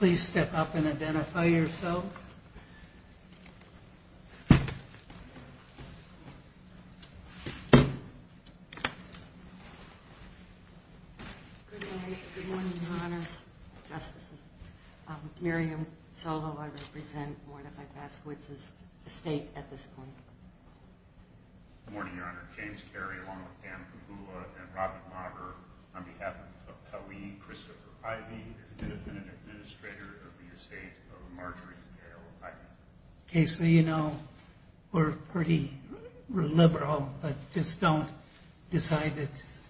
Please step up and identify yourselves. Good morning, your honors, justices. I'm Miriam Solow. I represent Mordecai-Paskowitz's estate at this point. Good morning, your honor. James Carey, along with Pam Cahoola and Robert Mager, on behalf of Colleen Christopher-Ivy, is the independent administrator of the estate of Marjorie Cahoola-Ivy. Okay, so you know, we're pretty liberal, but just don't decide that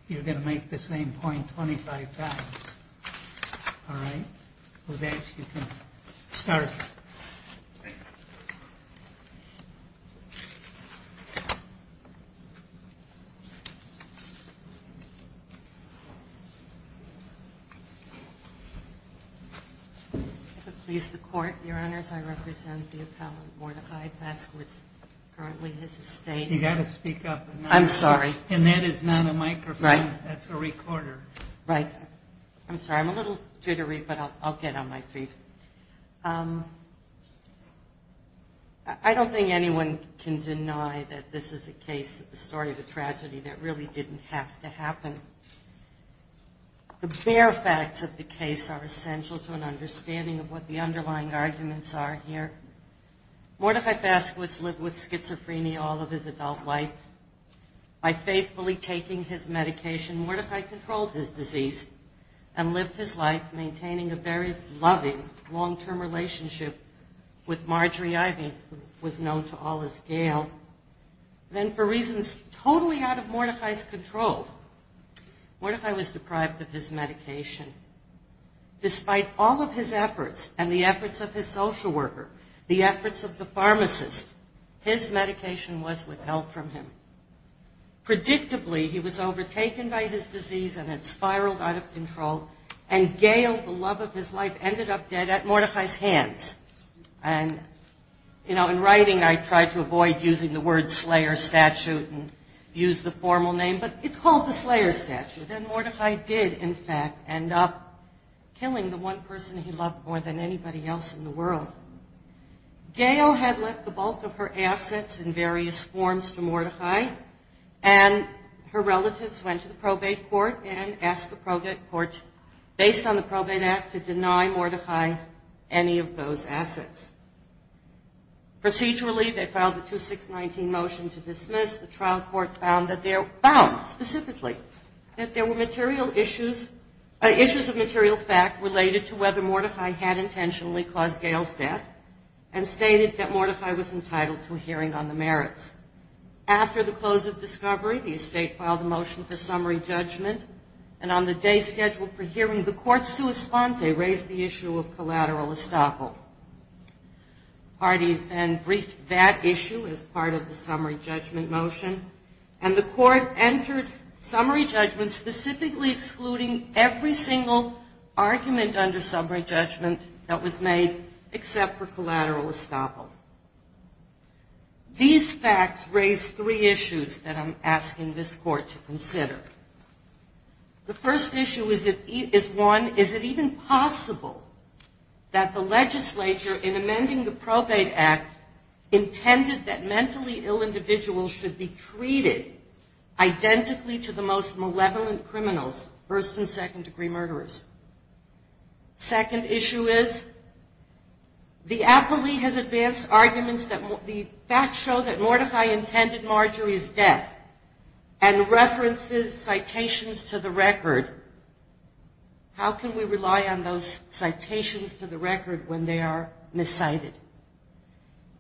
you're going to make the same point 25 times. All right? With that, you can start. If it pleases the court, your honors, I represent the appellant Mordecai-Paskowitz, currently his estate. You've got to speak up. I'm sorry. And that is not a microphone. Right. That's a recorder. Right. I'm sorry. I'm a little jittery, but I'll get on my feet. I don't think anyone can deny that this is a case, a story of a tragedy that really didn't have to happen. The bare facts of the case are essential to an understanding of what the underlying arguments are here. Mordecai-Paskowitz lived with schizophrenia all of his adult life. By faithfully taking his medication, Mordecai controlled his disease and lived his life maintaining a very loving, long-term relationship with Marjorie-Ivy, who was known to all as Gail. Then for reasons totally out of Mordecai's control, Mordecai was deprived of his medication. Despite all of his efforts and the efforts of his social worker, the efforts of the pharmacist, his medication was withheld from him. Predictably, he was overtaken by his disease and it spiraled out of control, and Gail, the love of his life, ended up dead at Mordecai's hands. And, you know, in writing I tried to avoid using the word slayer statute and use the formal name, but it's called the slayer statute. And Mordecai did, in fact, end up killing the one person he loved more than anybody else in the world. Gail had left the bulk of her assets in various forms for Mordecai, and her relatives went to the probate court and asked the probate court, based on the probate act, to deny Mordecai any of those assets. Procedurally, they filed a 2619 motion to dismiss. The trial court found that there were material issues, issues of material fact, related to whether Mordecai had intentionally caused Gail's death and stated that Mordecai was entitled to a hearing on the merits. After the close of discovery, the estate filed a motion for summary judgment, and on the day scheduled for hearing, the court's sua sponte raised the issue of collateral estoppel. Parties then briefed that issue as part of the summary judgment motion, and the court entered summary judgment, specifically excluding every single argument under summary judgment that was made, except for collateral estoppel. These facts raise three issues that I'm asking this court to consider. The first issue is one, is it even possible that the legislature, in amending the probate act, intended that mentally ill individuals should be treated identically to the most malevolent criminals, first and second degree murderers? Second issue is, the appellee has advanced arguments that the facts show that Mordecai intended Marjorie's death, and references citations to the record. How can we rely on those citations to the record when they are miscited?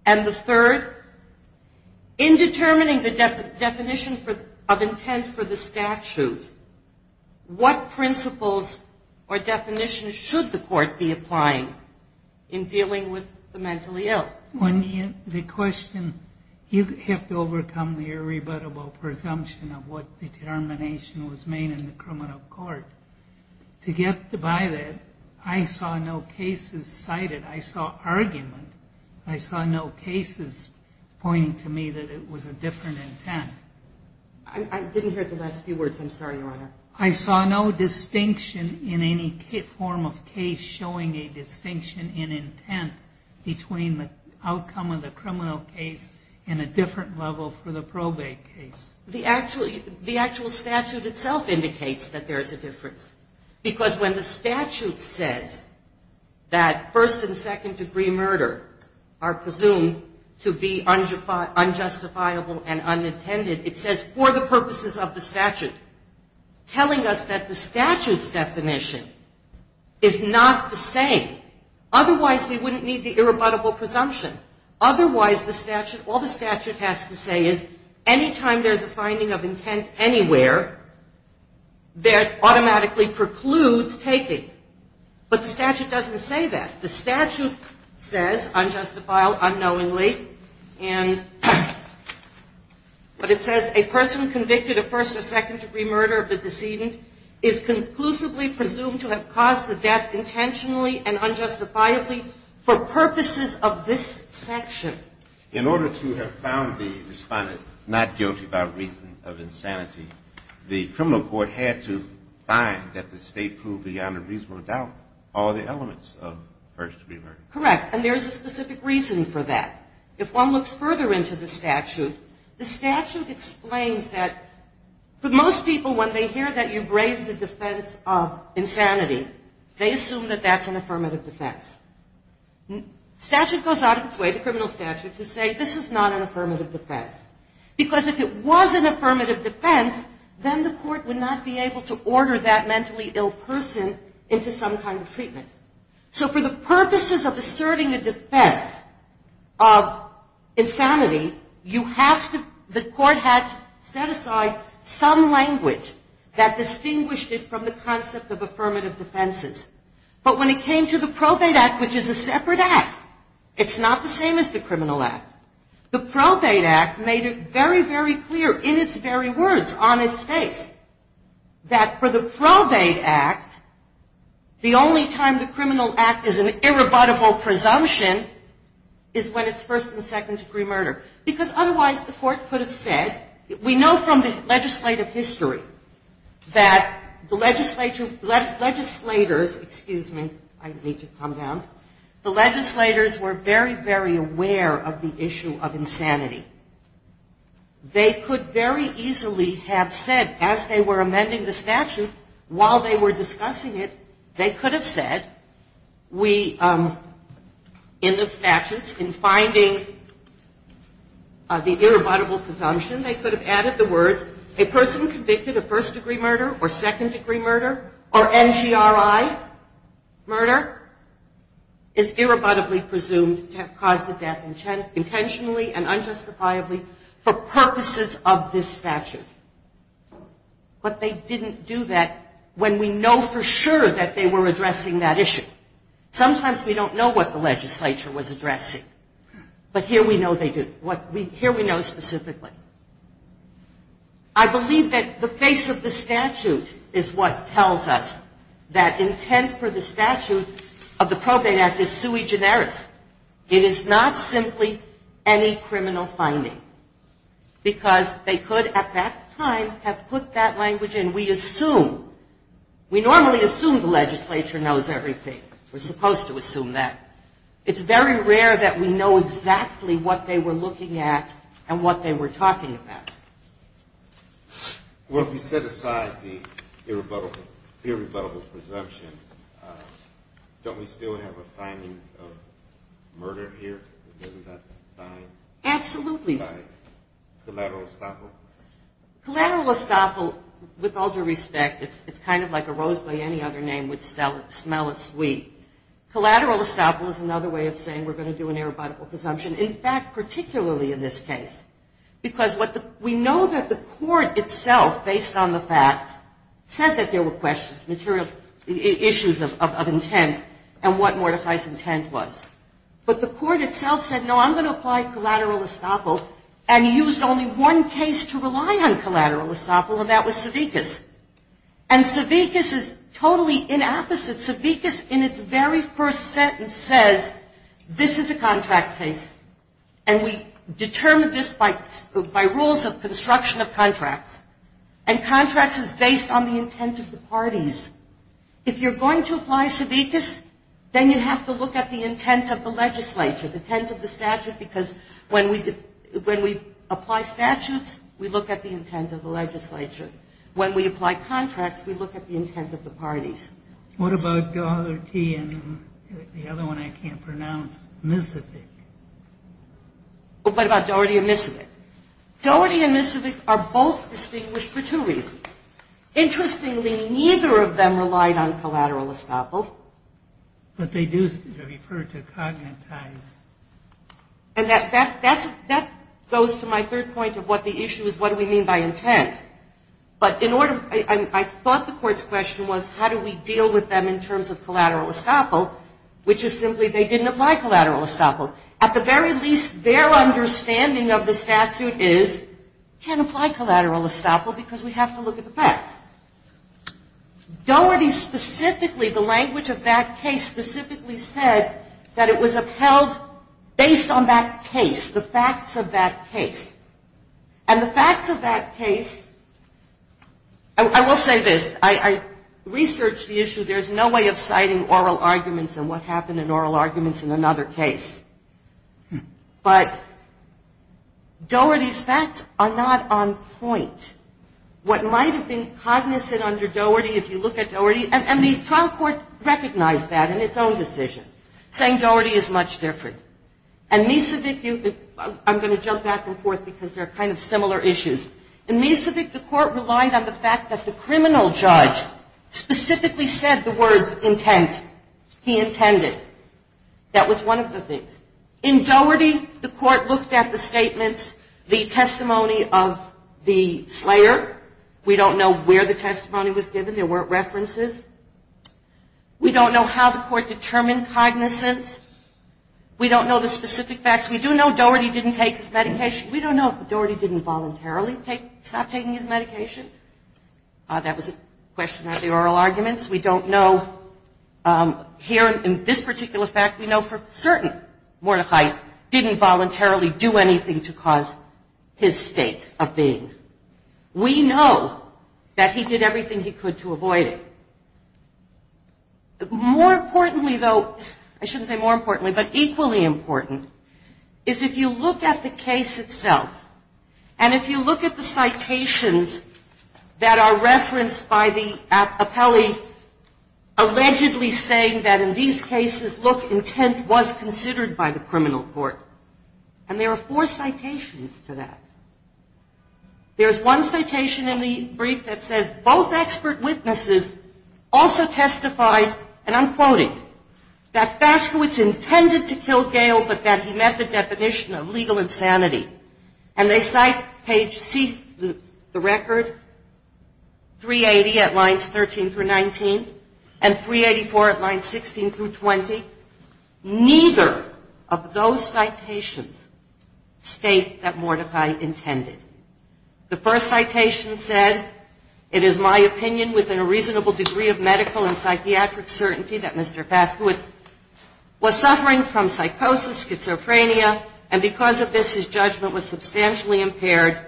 And the third, in determining the definition of intent for the statute, what principles or definitions should the court be applying in dealing with the mentally ill? The question, you have to overcome the irrebuttable presumption of what determination was made in the criminal court. To get by that, I saw no cases cited. I saw argument. I saw no cases pointing to me that it was a different intent. I didn't hear the last few words. I'm sorry, Your Honor. I saw no distinction in any form of case showing a distinction in intent between the outcome of the criminal case and a different level for the probate case. The actual statute itself indicates that there's a difference. Because when the statute says that first and second degree murder are presumed to be unjustifiable and unintended, it says, for the purposes of the statute, telling us that the statute's definition is not the same. Otherwise, we wouldn't need the irrebuttable presumption. Otherwise, the statute, all the statute has to say is any time there's a finding of intent anywhere, that automatically precludes taking. But the statute doesn't say that. The statute says unjustifiable unknowingly, and but it says a person convicted of first or second degree murder of the decedent is conclusively presumed to have caused the death intentionally and unjustifiably for purposes of this section. In order to have found the respondent not guilty by reason of insanity, the criminal court had to find that the state proved beyond a reasonable doubt all the elements of first degree murder. Correct. And there's a specific reason for that. If one looks further into the statute, the statute explains that for most people, when they hear that you've raised the defense of insanity, they assume that that's an affirmative defense. Statute goes out of its way, the criminal statute, to say this is not an affirmative defense. Because if it was an affirmative defense, then the court would not be able to order that mentally ill person into some kind of treatment. So for the purposes of asserting a defense of insanity, you have to the court had to set aside some language that distinguished it from the concept of affirmative defenses. But when it came to the Probate Act, which is a separate act, it's not the same as the Criminal Act. The Probate Act made it very, very clear in its very words on its face that for the Probate Act, the only time the Criminal Act is an irrebuttable presumption is when it's first and second degree murder. Because otherwise the court could have said, we know from the legislative history that the legislators, excuse me, I need to calm down, the legislators were very, very aware of the issue of insanity. They could very easily have said as they were amending the statute, while they were discussing it, they could have said we in the statutes, in finding the irrebuttable presumption, they could have added the words a person convicted of first degree murder or second degree murder or NGRI murder is irrebuttably presumed to have caused the death intentionally and unjustifiably for purposes of this statute. But they didn't do that when we know for sure that they were addressing that issue. Sometimes we don't know what the legislature was addressing. But here we know they did. Here we know specifically. I believe that the face of the statute is what tells us that intent for the statute of the Probate Act is sui generis. It is not simply any criminal finding. Because they could at that time have put that language in. We assume, we normally assume the legislature knows everything. We're supposed to assume that. It's very rare that we know exactly what they were looking at and what they were talking about. Well, if we set aside the irrebuttable presumption, don't we still have a finding of murder here? Absolutely. Collateral estoppel? Collateral estoppel, with all due respect, it's kind of like a rose by any other name would smell as sweet. Collateral estoppel is another way of saying we're going to do an irrebuttable presumption. In fact, particularly in this case, because we know that the court itself, based on the facts, said that there were questions, issues of intent and what mortifies intent was. But the court itself said, no, I'm going to apply collateral estoppel and used only one case to rely on collateral estoppel and that was Savickas. And Savickas is totally inapposite. Savickas, in its very first sentence, says this is a contract case and we determine this by rules of construction of contracts. And contracts is based on the intent of the parties. If you're going to apply Savickas, then you have to look at the intent of the legislature, the intent of the statute, because when we apply statutes, we look at the intent of the legislature. When we apply contracts, we look at the intent of the parties. What about Daugherty and the other one I can't pronounce, Misovic? What about Daugherty and Misovic? Daugherty and Misovic are both distinguished for two reasons. Interestingly, neither of them relied on collateral estoppel. But they do refer to cognate ties. And that goes to my third point of what the issue is, what do we mean by intent. I thought the court's question was how do we deal with them in terms of collateral estoppel, which is simply they didn't apply collateral estoppel. At the very least, their understanding of the statute is can't apply collateral estoppel because we have to look at the facts. Daugherty specifically, the language of that case specifically said that it was upheld based on that case, the facts of that case. And the facts of that case, I will say this, I researched the issue. There's no way of citing oral arguments and what happened in oral arguments in another case. But Daugherty's facts are not on point. What might have been cognizant under Daugherty, if you look at Daugherty, and the trial court recognized that in its own decision, saying Daugherty is much different. And Misovic, I'm going to jump back and forth because they're kind of similar issues. In Misovic, the court relied on the fact that the criminal judge specifically said the words intent. He intended. That was one of the things. In Daugherty, the court looked at the statements, the testimony of the slayer. We don't know where the testimony was given. There weren't references. We don't know how the court determined cognizance. We don't know the specific facts. We do know Daugherty didn't take his medication. We don't know if Daugherty didn't voluntarily stop taking his medication. That was a question of the oral arguments. We don't know. Here in this particular fact, we know for certain, Mordecai didn't voluntarily do anything to cause his state of being. We know that he did everything he could to avoid it. More importantly, though, I shouldn't say more importantly, but equally important, is if you look at the case itself and if you look at the citations that are referenced by the appellee allegedly saying that in these cases, look, intent was considered by the criminal court. And there are four citations to that. There's one citation in the brief that says, both expert witnesses also testified, and I'm quoting, that Faskowitz intended to kill Gale, but that he met the definition of legal insanity. And they cite page C, the record, 380 at lines 13 through 19, and 384 at lines 16 through 20. Neither of those citations state that Mordecai intended. The first citation said, it is my opinion, within a reasonable degree of medical and psychiatric certainty, that Mr. Faskowitz was suffering from psychosis, schizophrenia, and because of this, his judgment was substantially impaired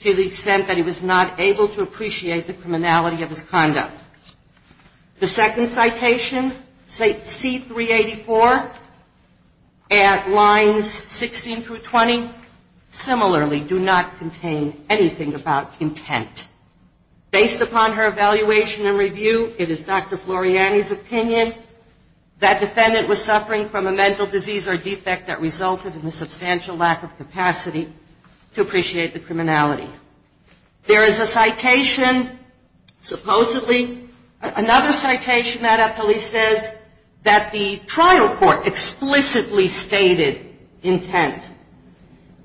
to the extent that he was not able to appreciate the criminality of his conduct. The second citation, C384, at lines 16 through 20, similarly do not contain anything about intent. Based upon her evaluation and review, it is Dr. Floriani's opinion that defendant was suffering from a mental disease or defect that resulted in a substantial lack of capacity to appreciate the criminality. There is a citation, supposedly, another citation, Matt, that police says that the trial court explicitly stated intent.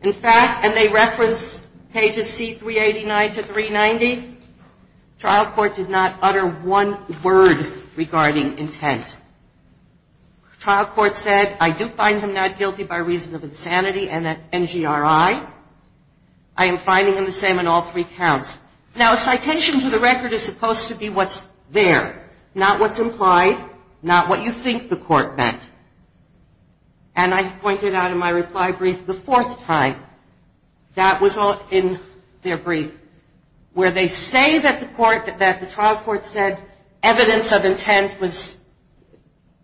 In fact, and they reference pages C389 to 390, trial court did not utter one word regarding intent. Trial court said, I do find him not guilty by reason of insanity and NGRI. I am finding him the same in all three counts. Now, a citation to the record is supposed to be what's there, not what's implied, not what you think the court meant. And I pointed out in my reply brief the fourth time that was in their brief, where they say that the trial court said evidence of intent was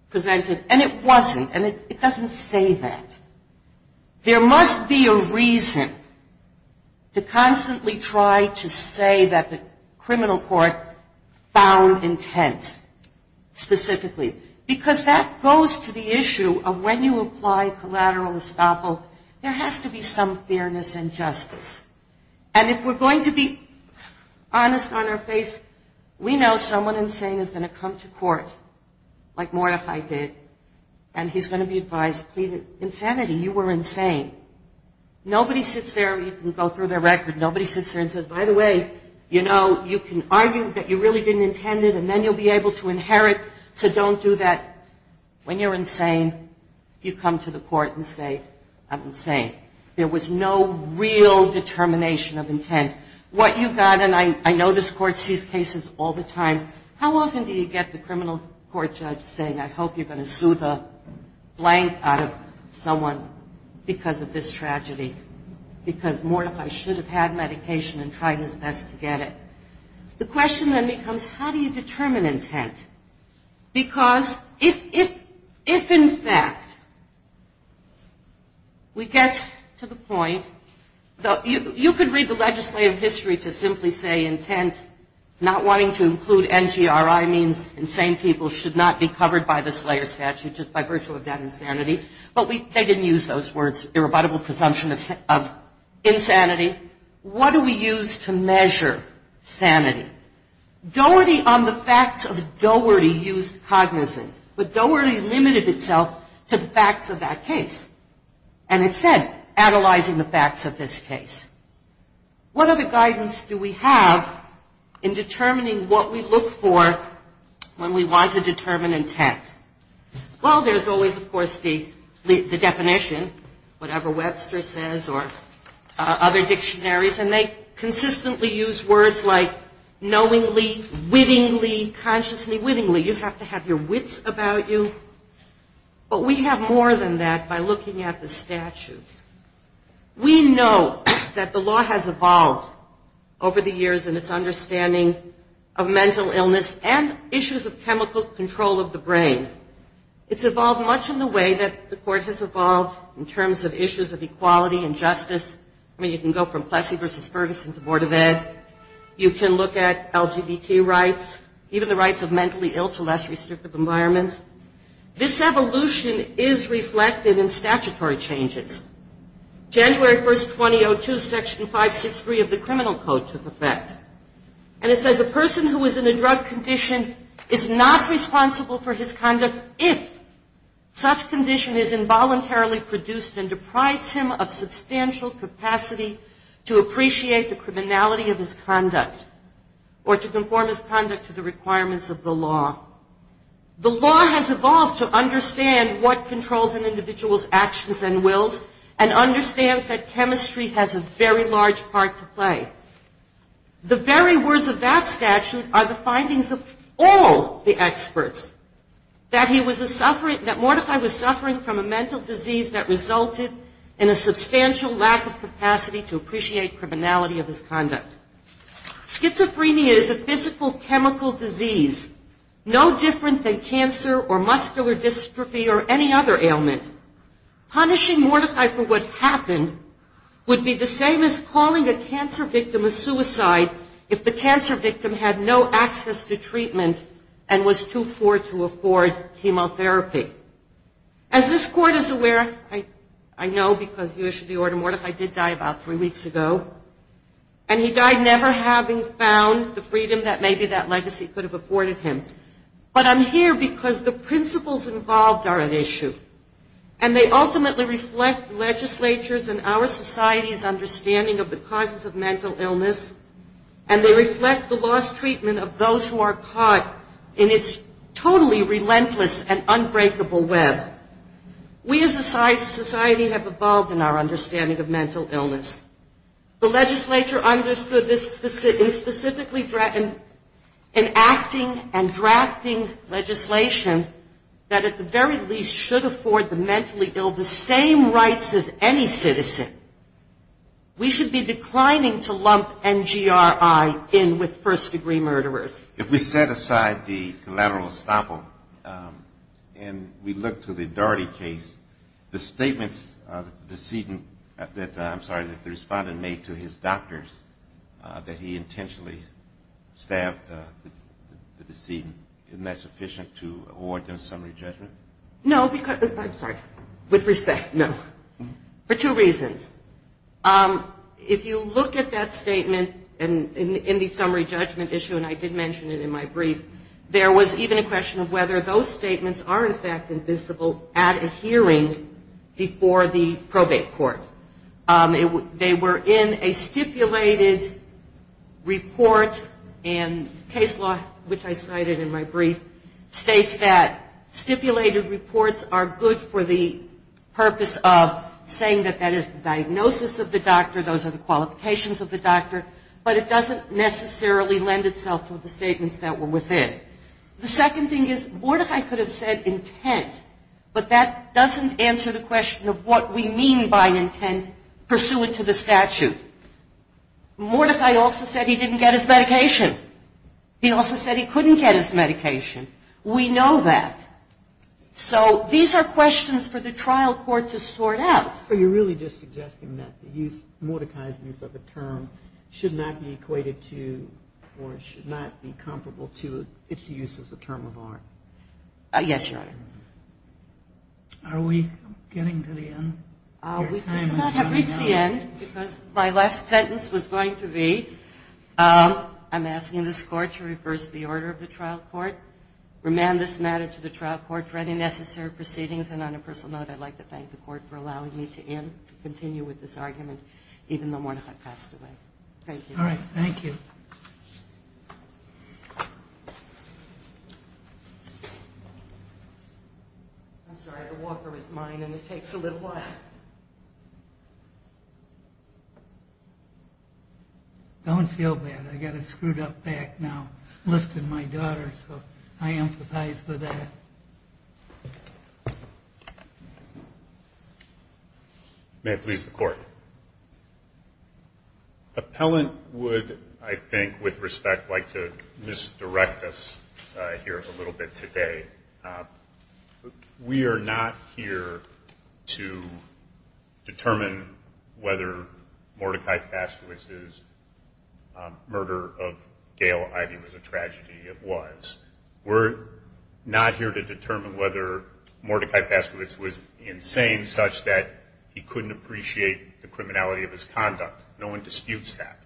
presented, and it wasn't, and it doesn't say that. There must be a reason to constantly try to say that the criminal court found intent specifically, because that goes to the issue of when you apply collateral estoppel, there has to be some fairness and justice. And if we're going to be honest on our face, we know someone insane is going to come to court, like Mordecai did, and he's going to be advised to plead insanity, you were insane. Nobody sits there, you can go through their record, nobody sits there and says, by the way, you know, you can argue that you really didn't intend it, and then you'll be able to inherit, so don't do that. When you're insane, you come to the court and say, I'm insane. There was no real determination of intent. What you got, and I know this court sees cases all the time, how often do you get the criminal court judge saying, I hope you're going to sue the blank out of someone because of this tragedy, because Mordecai should have had medication and tried his best to get it. The question then becomes, how do you determine intent? Because if, in fact, we get to the point, you could read the legislative history to simply say intent, not wanting to include NGRI means insane people, should not be covered by the Slayer Statute just by virtue of that insanity, but they didn't use those words, irrebuttable presumption of insanity. What do we use to measure sanity? Doherty on the facts of Doherty used cognizant, but Doherty limited itself to the facts of that case, and it said, analyzing the facts of this case. What other guidance do we have in determining what we look for when we want to determine intent? Well, there's always, of course, the definition, whatever Webster says or other dictionaries, and they consistently use words like knowingly, wittingly, consciously, wittingly, you have to have your wits about you, but we have more than that by looking at the statute. We know that the law has evolved over the years in its understanding of mental illness and issues of chemical control of the brain. It's evolved much in the way that the court has evolved in terms of issues of equality and justice. I mean, you can go from Plessy v. Ferguson to Board of Ed. You can look at LGBT rights, even the rights of mentally ill to less restrictive environments. This evolution is reflected in statutory changes. January 1st, 2002, Section 563 of the Criminal Code took effect, and it says a person who is in a drug condition is not responsible for his conduct if such condition is involuntarily produced and deprives him of substantial capacity to appreciate the criminality of his conduct or to conform his conduct to the requirements of the law. The law has evolved to understand what controls an individual's actions and wills and understands that chemistry has a very large part to play. The very words of that statute are the findings of all the experts, that he was a suffering, that Mortify was suffering from a mental disease that resulted in a substantial lack of capacity to appreciate criminality of his conduct. Schizophrenia is a physical chemical disease no different than cancer or muscular dystrophy or any other ailment. Punishing Mortify for what happened would be the same as calling a cancer victim a suicide if the cancer victim had no access to treatment and was too poor to afford chemotherapy. As this Court is aware, I know because you issued the order, Mortify did die about three weeks ago, and he died never having found the freedom that maybe that legacy could have afforded him. But I'm here because the principles involved are at issue, and they ultimately reflect legislatures and our society's understanding of the causes of mental illness, and they reflect the lost treatment of those who are caught in its totally relentless and unbreakable web. We as a society have evolved in our understanding of mental illness. The legislature understood this specifically in acting and drafting legislation that at the very least should afford the mentally ill the same rights as any citizen. We should be declining to lump NGRI in with first-degree murderers. If we set aside the collateral estoppel and we look to the Daugherty case, the statements of the decedent that, I'm sorry, that the respondent made to his doctors that he intentionally stabbed the decedent, isn't that sufficient to award them summary judgment? No, because, I'm sorry, with respect, no. For two reasons. If you look at that statement in the summary judgment issue, and I did mention it in my brief, there was even a question of whether those statements are, in fact, invisible at a hearing before the probate court. They were in a stipulated report, and case law, which I cited in my brief, states that stipulated reports are good for the purpose of saying that that is the diagnosis of the doctor, those are the qualifications of the doctor, but it doesn't necessarily lend itself to the statements that were within. The second thing is Mordecai could have said intent, but that doesn't answer the question of what we mean by intent pursuant to the statute. Mordecai also said he didn't get his medication. He also said he couldn't get his medication. We know that. So these are questions for the trial court to sort out. But you're really just suggesting that the use, Mordecai's use of the term, should not be equated to or should not be comparable to its use as a term of art. Yes, Your Honor. Are we getting to the end? We do not have reached the end, because my last sentence was going to be, I'm asking this Court to reverse the order of the trial court, remand this matter to the trial court for any necessary proceedings. And on a personal note, I'd like to thank the Court for allowing me to end, to continue with this argument, even though Mordecai passed away. Thank you. All right. Thank you. I'm sorry. The water is mine, and it takes a little while. Don't feel bad. I got it screwed up back now. I lifted my daughter, so I empathize with that. May it please the Court. Appellant would, I think, with respect, like to misdirect us here a little bit today. We are not here to determine whether Mordecai Fastowitz's murder of Gail Ivey was a tragedy. It was. We're not here to determine whether Mordecai Fastowitz was insane such that he couldn't appreciate the criminality of his conduct. No one disputes that.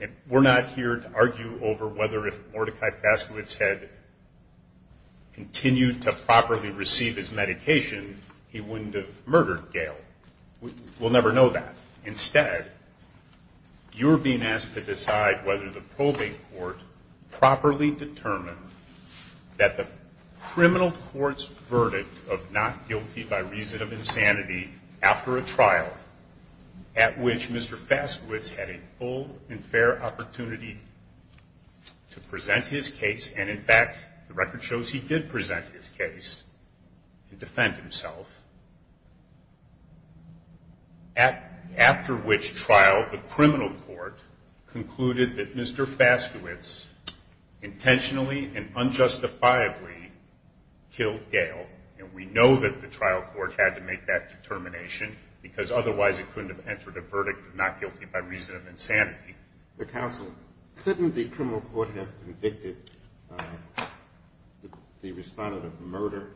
And we're not here to argue over whether if Mordecai Fastowitz had continued to properly receive his medication, he wouldn't have murdered Gail. We'll never know that. Instead, you're being asked to decide whether the probate court properly determined that the criminal court's after a trial at which Mr. Fastowitz had a full and fair opportunity to present his case. And, in fact, the record shows he did present his case and defend himself. After which trial, the criminal court concluded that Mr. Fastowitz intentionally and unjustifiably killed Gail. And we know that the trial court had to make that determination because otherwise it couldn't have entered a verdict of not guilty by reason of insanity. Counsel, couldn't the criminal court have convicted the respondent of murder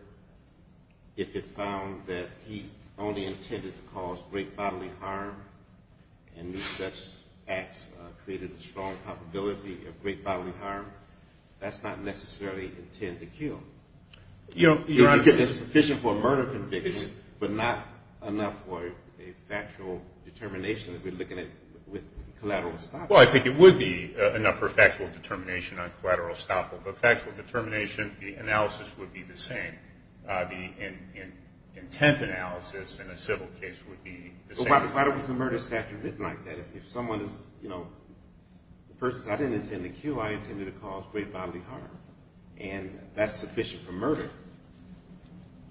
if it found that he only intended to cause great bodily harm and such acts created a strong probability of great bodily harm? That's not necessarily intent to kill. It's sufficient for a murder conviction, but not enough for a factual determination that we're looking at with collateral estoppel. Well, I think it would be enough for a factual determination on collateral estoppel. But factual determination, the analysis would be the same. The intent analysis in a civil case would be the same. Well, collateral is a murder statute written like that. If someone is, you know, the person says, I didn't intend to kill. I intended to cause great bodily harm. And that's sufficient for murder.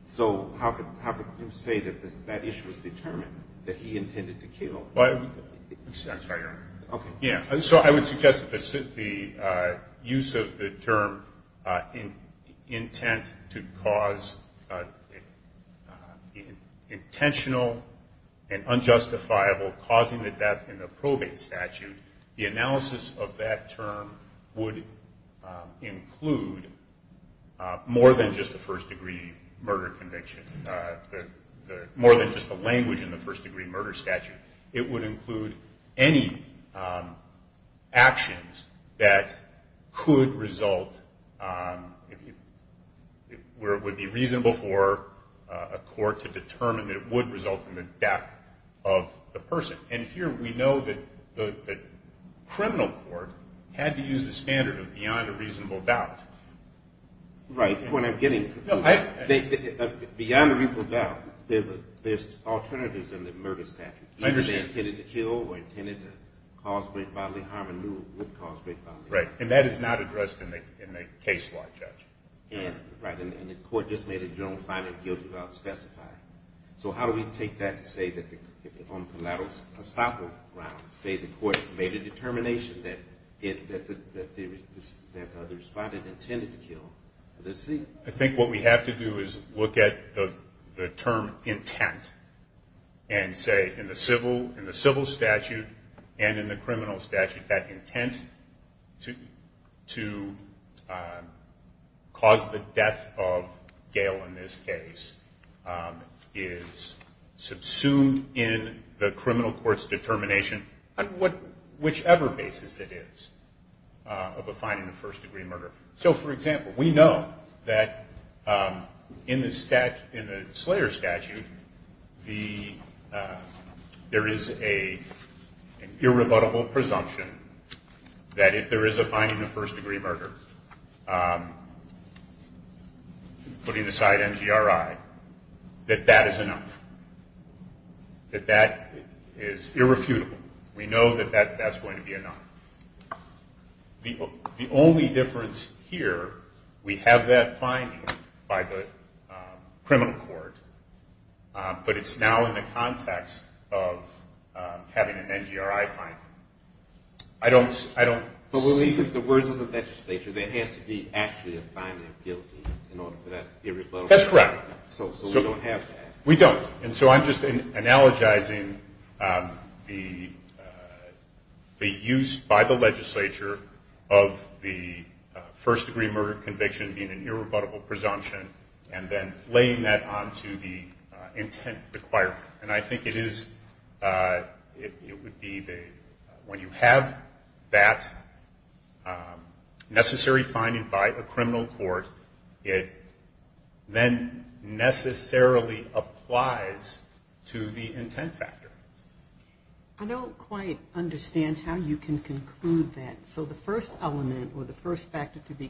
So how could you say that that issue was determined, that he intended to kill? I'm sorry, Your Honor. Okay. Yeah. So I would suggest that the use of the term intent to cause intentional and unjustifiable causing the death in the probate statute, the analysis of that term would include more than just the first degree murder conviction, more than just the language in the first degree murder statute. It would include any actions that could result, where it would be reasonable for a court to determine that it would result in the death of the person. And here we know that the criminal court had to use the standard of beyond a reasonable doubt. Right. Beyond a reasonable doubt, there's alternatives in the murder statute. Either they intended to kill or intended to cause great bodily harm and would cause great bodily harm. Right. And that is not addressed in the case law, Judge. Right. And the court just made a general finding guilty without specifying. So how do we take that to say that on collateral estoppel grounds, say the court made a determination that the respondent intended to kill, let's see. I think what we have to do is look at the term intent and say in the civil statute and in the criminal statute, that intent to cause the death of Gail in this case is subsumed in the criminal court's determination on whichever basis it is of a finding of first degree murder. So, for example, we know that in the Slayer statute, there is an irrebuttable presumption that if there is a finding of first degree murder, putting aside NGRI, that that is enough. That that is irrefutable. We know that that's going to be enough. The only difference here, we have that finding by the criminal court, but it's now in the context of having an NGRI finding. I don't see the words of the legislature that has to be actually a finding of guilty in order for that to be irrefutable. That's correct. So we don't have that. We don't. And so I'm just analogizing the use by the legislature of the first degree murder conviction being an irrebuttable presumption and then laying that onto the intent requirement. And I think it is, it would be when you have that necessary finding by a criminal court, it then necessarily applies to the intent factor. I don't quite understand how you can conclude that. So the first element or the first factor to be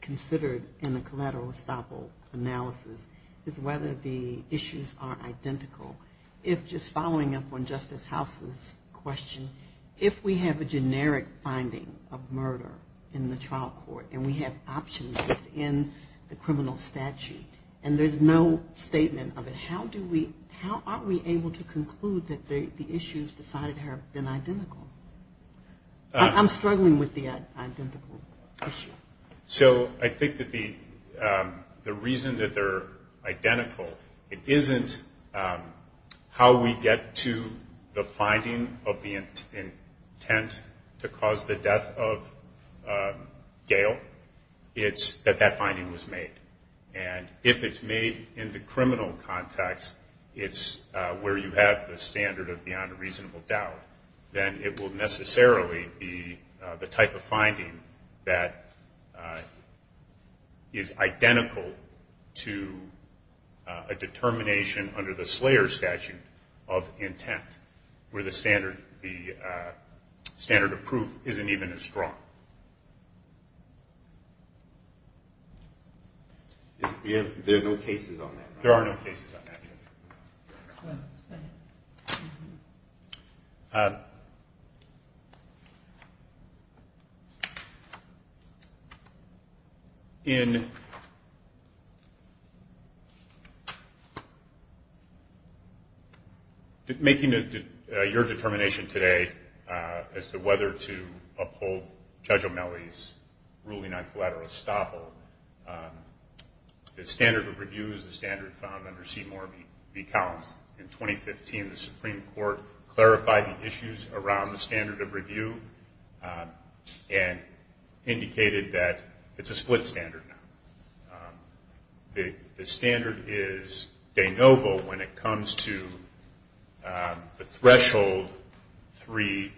considered in a collateral estoppel analysis is whether the issues are identical. If just following up on Justice House's question, if we have a generic finding of murder in the trial court and we have options within the criminal statute and there's no statement of it, how are we able to conclude that the issues decided have been identical? I'm struggling with the identical issue. So I think that the reason that they're identical, it isn't how we get to the finding of the intent to cause the death of Gail. It's that that finding was made. And if it's made in the criminal context, it's where you have the standard of beyond a reasonable doubt, then it will necessarily be the type of finding that is identical to a determination under the Slayer statute of intent where the standard of proof isn't even as strong. There are no cases on that. There are no cases on that. Thank you. In making your determination today as to whether to uphold Judge O'Malley's ruling on collateral estoppel, the standard of review is the standard found under C. Moore v. Collins. In 2015, the Supreme Court clarified the issues around the standard of review and indicated that it's a split standard. The standard is de novo when it comes to the three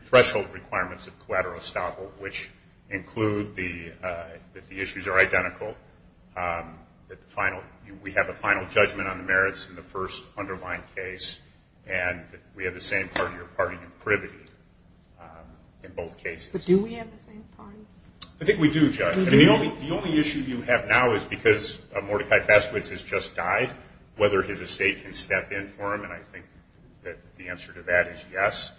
threshold requirements of collateral estoppel, which include that the issues are identical, that we have a final judgment on the merits in the first underlying case, and that we have the same party or party in privity in both cases. Do we have the same party? I think we do, Judge. We do? I mean, the only issue you have now is because Mordecai Faskowitz has just died, whether his estate can step in for him, and I think that the answer to that is yes.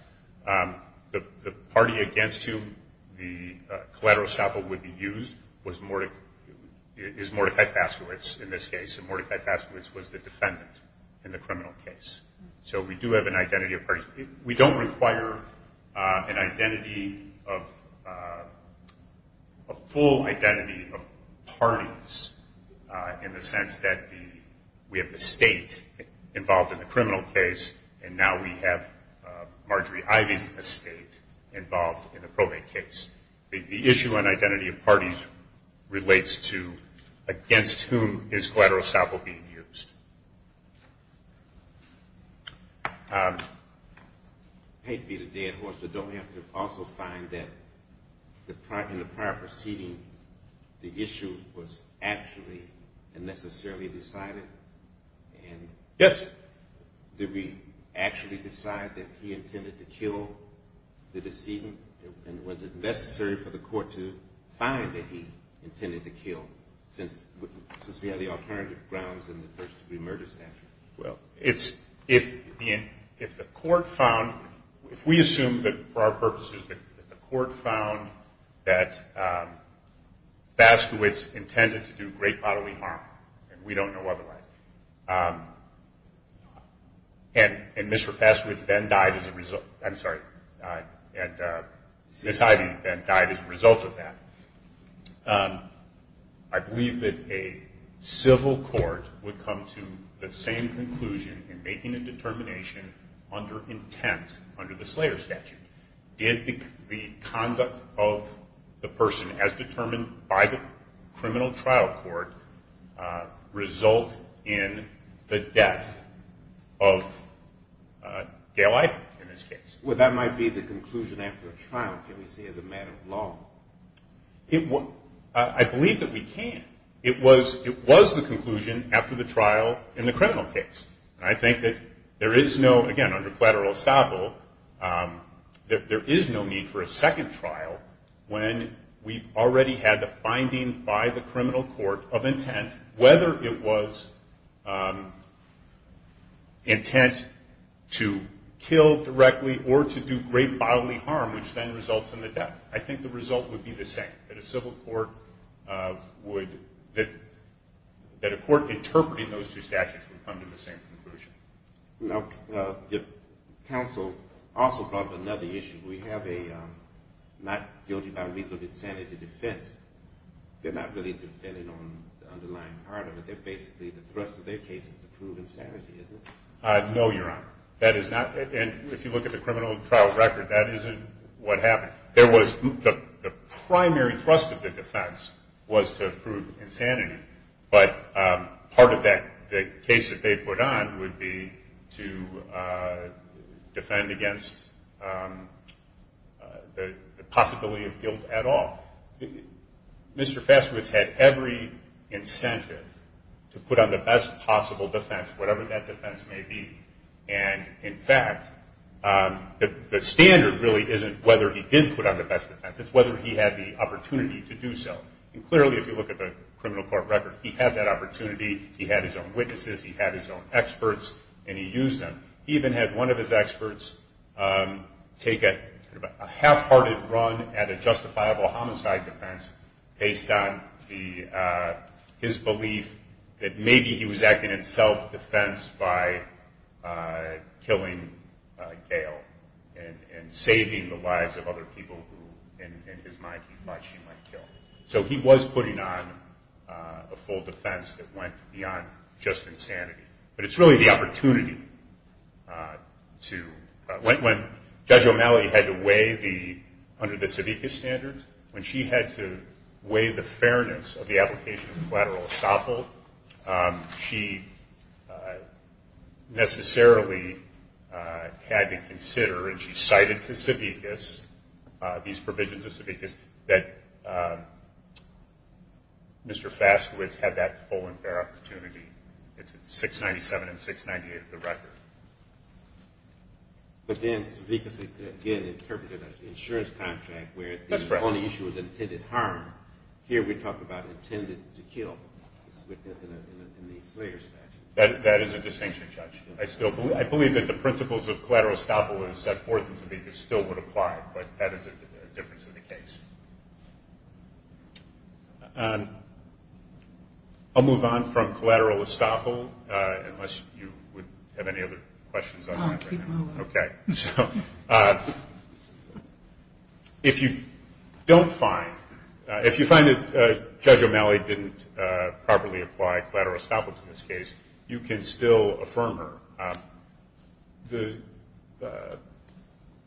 The party against whom the collateral estoppel would be used is Mordecai Faskowitz in this case, and Mordecai Faskowitz was the defendant in the criminal case. So we do have an identity of parties. We don't require an identity of a full identity of parties in the sense that we have the state involved in the criminal case, and now we have Marjorie Ivey's estate involved in the probate case. The issue on identity of parties relates to against whom is collateral estoppel being used. I hate to beat a dead horse, but don't we have to also find that in the prior proceeding, the issue was actually unnecessarily decided? Yes. Did we actually decide that he intended to kill the decedent? And was it necessary for the court to find that he intended to kill, since we have the alternative grounds in the first-degree murder statute? Well, if the court found, if we assume that for our purposes that the court found that Faskowitz intended to do great bodily harm, and we don't know otherwise, and Mr. Faskowitz then died as a result. I'm sorry. Ms. Ivey then died as a result of that. I believe that a civil court would come to the same conclusion in making a determination under intent under the Slayer statute. Did the conduct of the person as determined by the criminal trial court result in the death of Gail Ivey in this case? Well, that might be the conclusion after a trial, can't we see as a matter of law? I believe that we can. It was the conclusion after the trial in the criminal case. And I think that there is no, again, under collateral estoppel, that there is no need for a second trial when we've already had the finding by the criminal court of intent, whether it was intent to kill directly or to do great bodily harm, which then results in the death. I think the result would be the same, that a civil court would, that a court interpreting those two statutes would come to the same conclusion. Now, counsel also brought up another issue. We have a not guilty by reason of insanity defense. They're not really defending on the underlying part of it. They're basically the thrust of their case is to prove insanity, isn't it? No, Your Honor. That is not, and if you look at the criminal trial record, that isn't what happened. There was, the primary thrust of the defense was to prove insanity, but part of the case that they put on would be to defend against the possibility of guilt at all. Mr. Fastowitz had every incentive to put on the best possible defense, whatever that defense may be. And, in fact, the standard really isn't whether he did put on the best defense. It's whether he had the opportunity to do so. And clearly, if you look at the criminal court record, he had that opportunity. He had his own witnesses. He had his own experts, and he used them. He even had one of his experts take a half-hearted run at a justifiable homicide defense based on his belief that maybe he was acting in self-defense by killing Gail and saving the lives of other people who, in his mind, he thought she might kill. So he was putting on a full defense that went beyond just insanity. But it's really the opportunity to, when Judge O'Malley had to weigh the, under the Savickas standards, when she had to weigh the fairness of the application of collateral estoppel, she necessarily had to consider, and she cited to Savickas these provisions of Savickas, that Mr. Fastowitz had that full and fair opportunity. It's 697 and 698 of the record. But then Savickas, again, interpreted an insurance contract where the only issue was intended harm. Here we talk about intended to kill in the Slayer statute. That is a distinction, Judge. I believe that the principles of collateral estoppel as set forth in Savickas still would apply, but that is a difference of the case. I'll move on from collateral estoppel, unless you would have any other questions on that right now. I'll keep moving. Okay. So if you don't find, if you find that Judge O'Malley didn't properly apply collateral estoppel to this case, you can still affirm her. The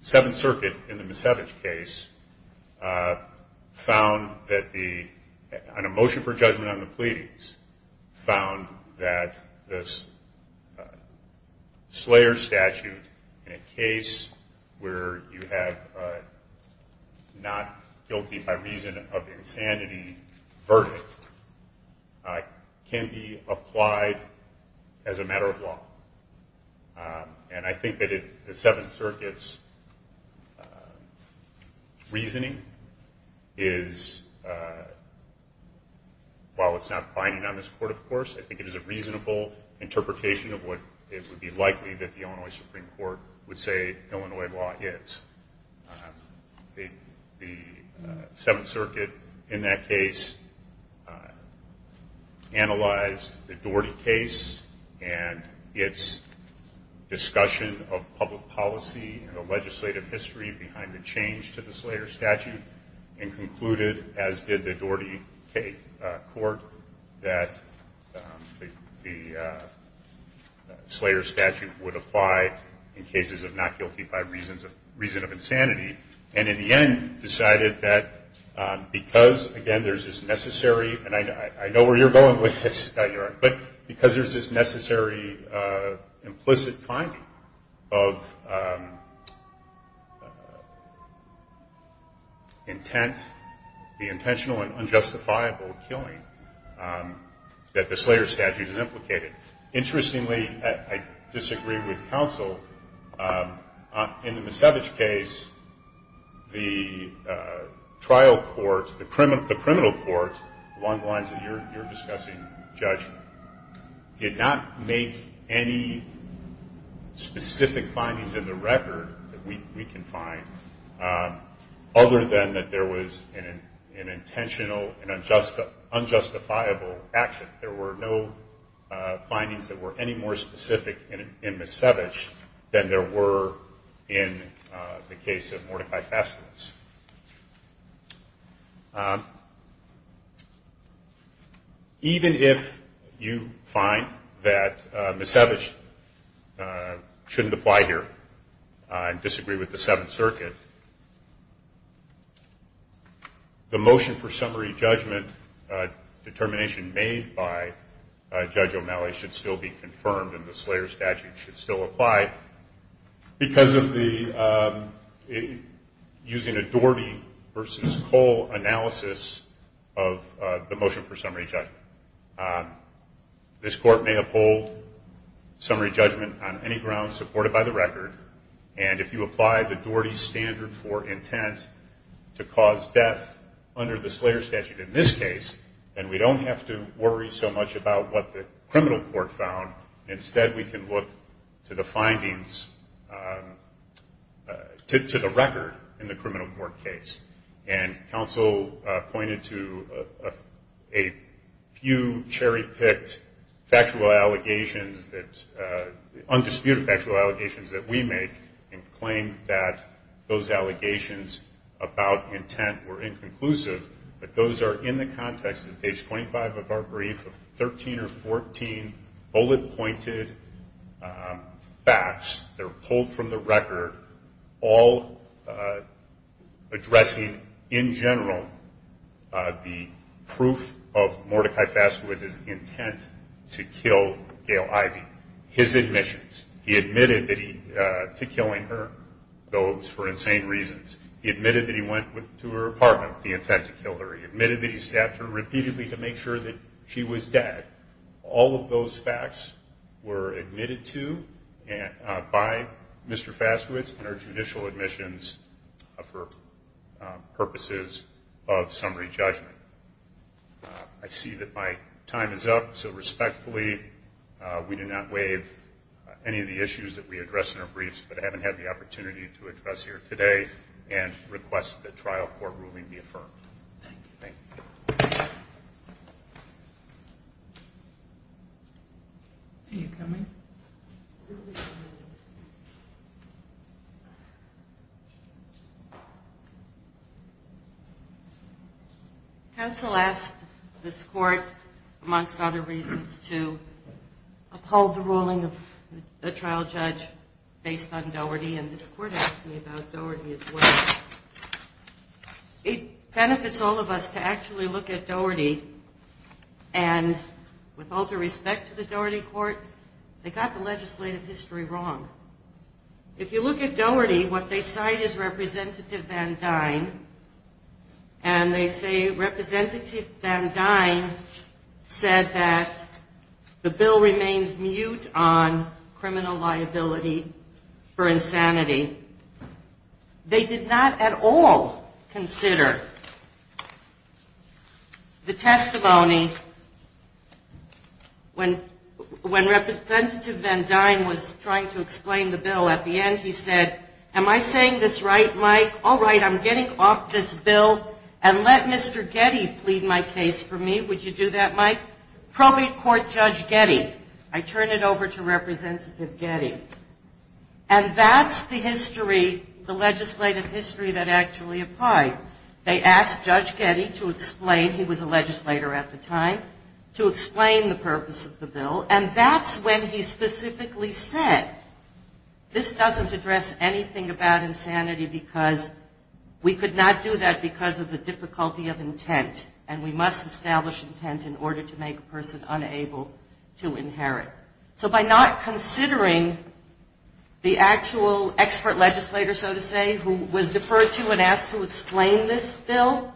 Seventh Circuit in the Misevich case found that the, on a motion for judgment on the pleadings, found that this Slayer statute in a case where you have not guilty by reason of insanity verdict, can be applied as a matter of law. And I think that the Seventh Circuit's reasoning is, while it's not binding on this court, of course, I think it is a reasonable interpretation of what it would be likely that the Illinois Supreme Court would say Illinois law is. The Seventh Circuit in that case analyzed the Doherty case and its discussion of public policy and the legislative history behind the change to the Slayer statute and concluded, as did the Doherty court, that the Slayer statute would apply in cases of not guilty by reason of insanity and in the end decided that because, again, there's this necessary, and I know where you're going with this, Scott, but because there's this necessary implicit finding of intent, the intentional and unjustifiable killing, that the Slayer statute is implicated. Interestingly, I disagree with counsel, in the Misevich case, the trial court, the criminal court, along the lines of your discussing judgment, did not make any specific findings in the record that we can find, other than that there was an intentional and unjustifiable action. In fact, there were no findings that were any more specific in Misevich than there were in the case of Mordecai Fascules. Even if you find that Misevich shouldn't apply here and disagree with the Seventh Circuit, the motion for summary judgment determination made by Judge O'Malley should still be confirmed and the Slayer statute should still apply because of the, using a Doherty versus Cole analysis of the motion for summary judgment. This court may uphold summary judgment on any grounds supported by the record, and if you apply the Doherty standard for intent to cause death under the Slayer statute in this case, then we don't have to worry so much about what the criminal court found. Instead, we can look to the findings, to the record in the criminal court case. And counsel pointed to a few cherry-picked factual allegations that, undisputed factual allegations that we make and claimed that those allegations about intent were inconclusive, but those are in the context of page 25 of our brief of 13 or 14 bullet-pointed facts. They're pulled from the record, all addressing in general the proof of Mordecai Fascules' intent to kill Gail Ivey. His admissions, he admitted to killing her, those for insane reasons. He admitted that he went to her apartment with the intent to kill her. He admitted that he stabbed her repeatedly to make sure that she was dead. All of those facts were admitted to by Mr. Fascules in our judicial admissions for purposes of summary judgment. I see that my time is up. So respectfully, we do not waive any of the issues that we address in our briefs, but I haven't had the opportunity to address here today and request that trial court ruling be affirmed. Thank you. Thank you. Are you coming? Counsel asked this court, amongst other reasons, to uphold the ruling of a trial judge based on Doherty, and this court asked me about Doherty as well. It benefits all of us to actually look at Doherty, and with all due respect to the Doherty court, they got the legislative history wrong. If you look at Doherty, what they cite is Representative Van Dyne, and they say Representative Van Dyne said that the bill remains mute on criminal liability for insanity. They did not at all consider the testimony when Representative Van Dyne was trying to explain the bill. At the end, he said, am I saying this right, Mike? All right, I'm getting off this bill, and let Mr. Getty plead my case for me. Would you do that, Mike? Probate Court Judge Getty. I turn it over to Representative Getty. And that's the history, the legislative history that actually applied. They asked Judge Getty to explain, he was a legislator at the time, to explain the purpose of the bill, and that's when he specifically said, this doesn't address anything about insanity because we could not do that because of the difficulty of intent, and we must establish intent in order to make a person unable to inherit. So by not considering the actual expert legislator, so to say, who was deferred to and asked to explain this bill,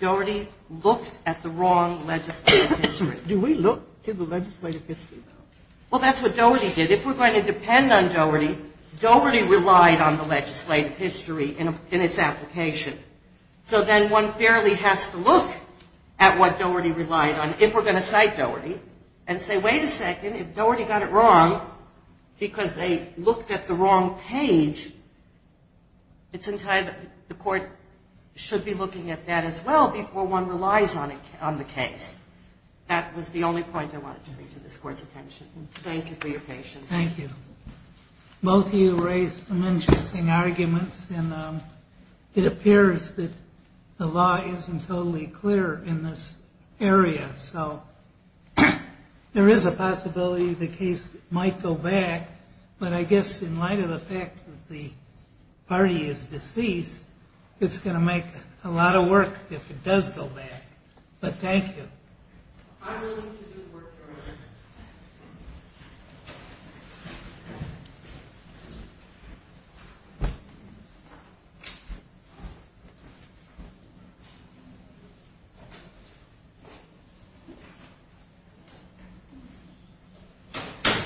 Doherty looked at the wrong legislative history. Do we look to the legislative history, though? Well, that's what Doherty did. If we're going to depend on Doherty, Doherty relied on the legislative history in its application. So then one fairly has to look at what Doherty relied on, if we're going to cite Doherty, and say, wait a second, if Doherty got it wrong because they looked at the wrong page, the court should be looking at that as well before one relies on the case. That was the only point I wanted to make to this Court's attention. Thank you for your patience. Thank you. Both of you raised some interesting arguments, and it appears that the law isn't totally clear in this area. So there is a possibility the case might go back, but I guess in light of the fact that the party is deceased, it's going to make a lot of work if it does go back. But thank you. I really need to do the work here.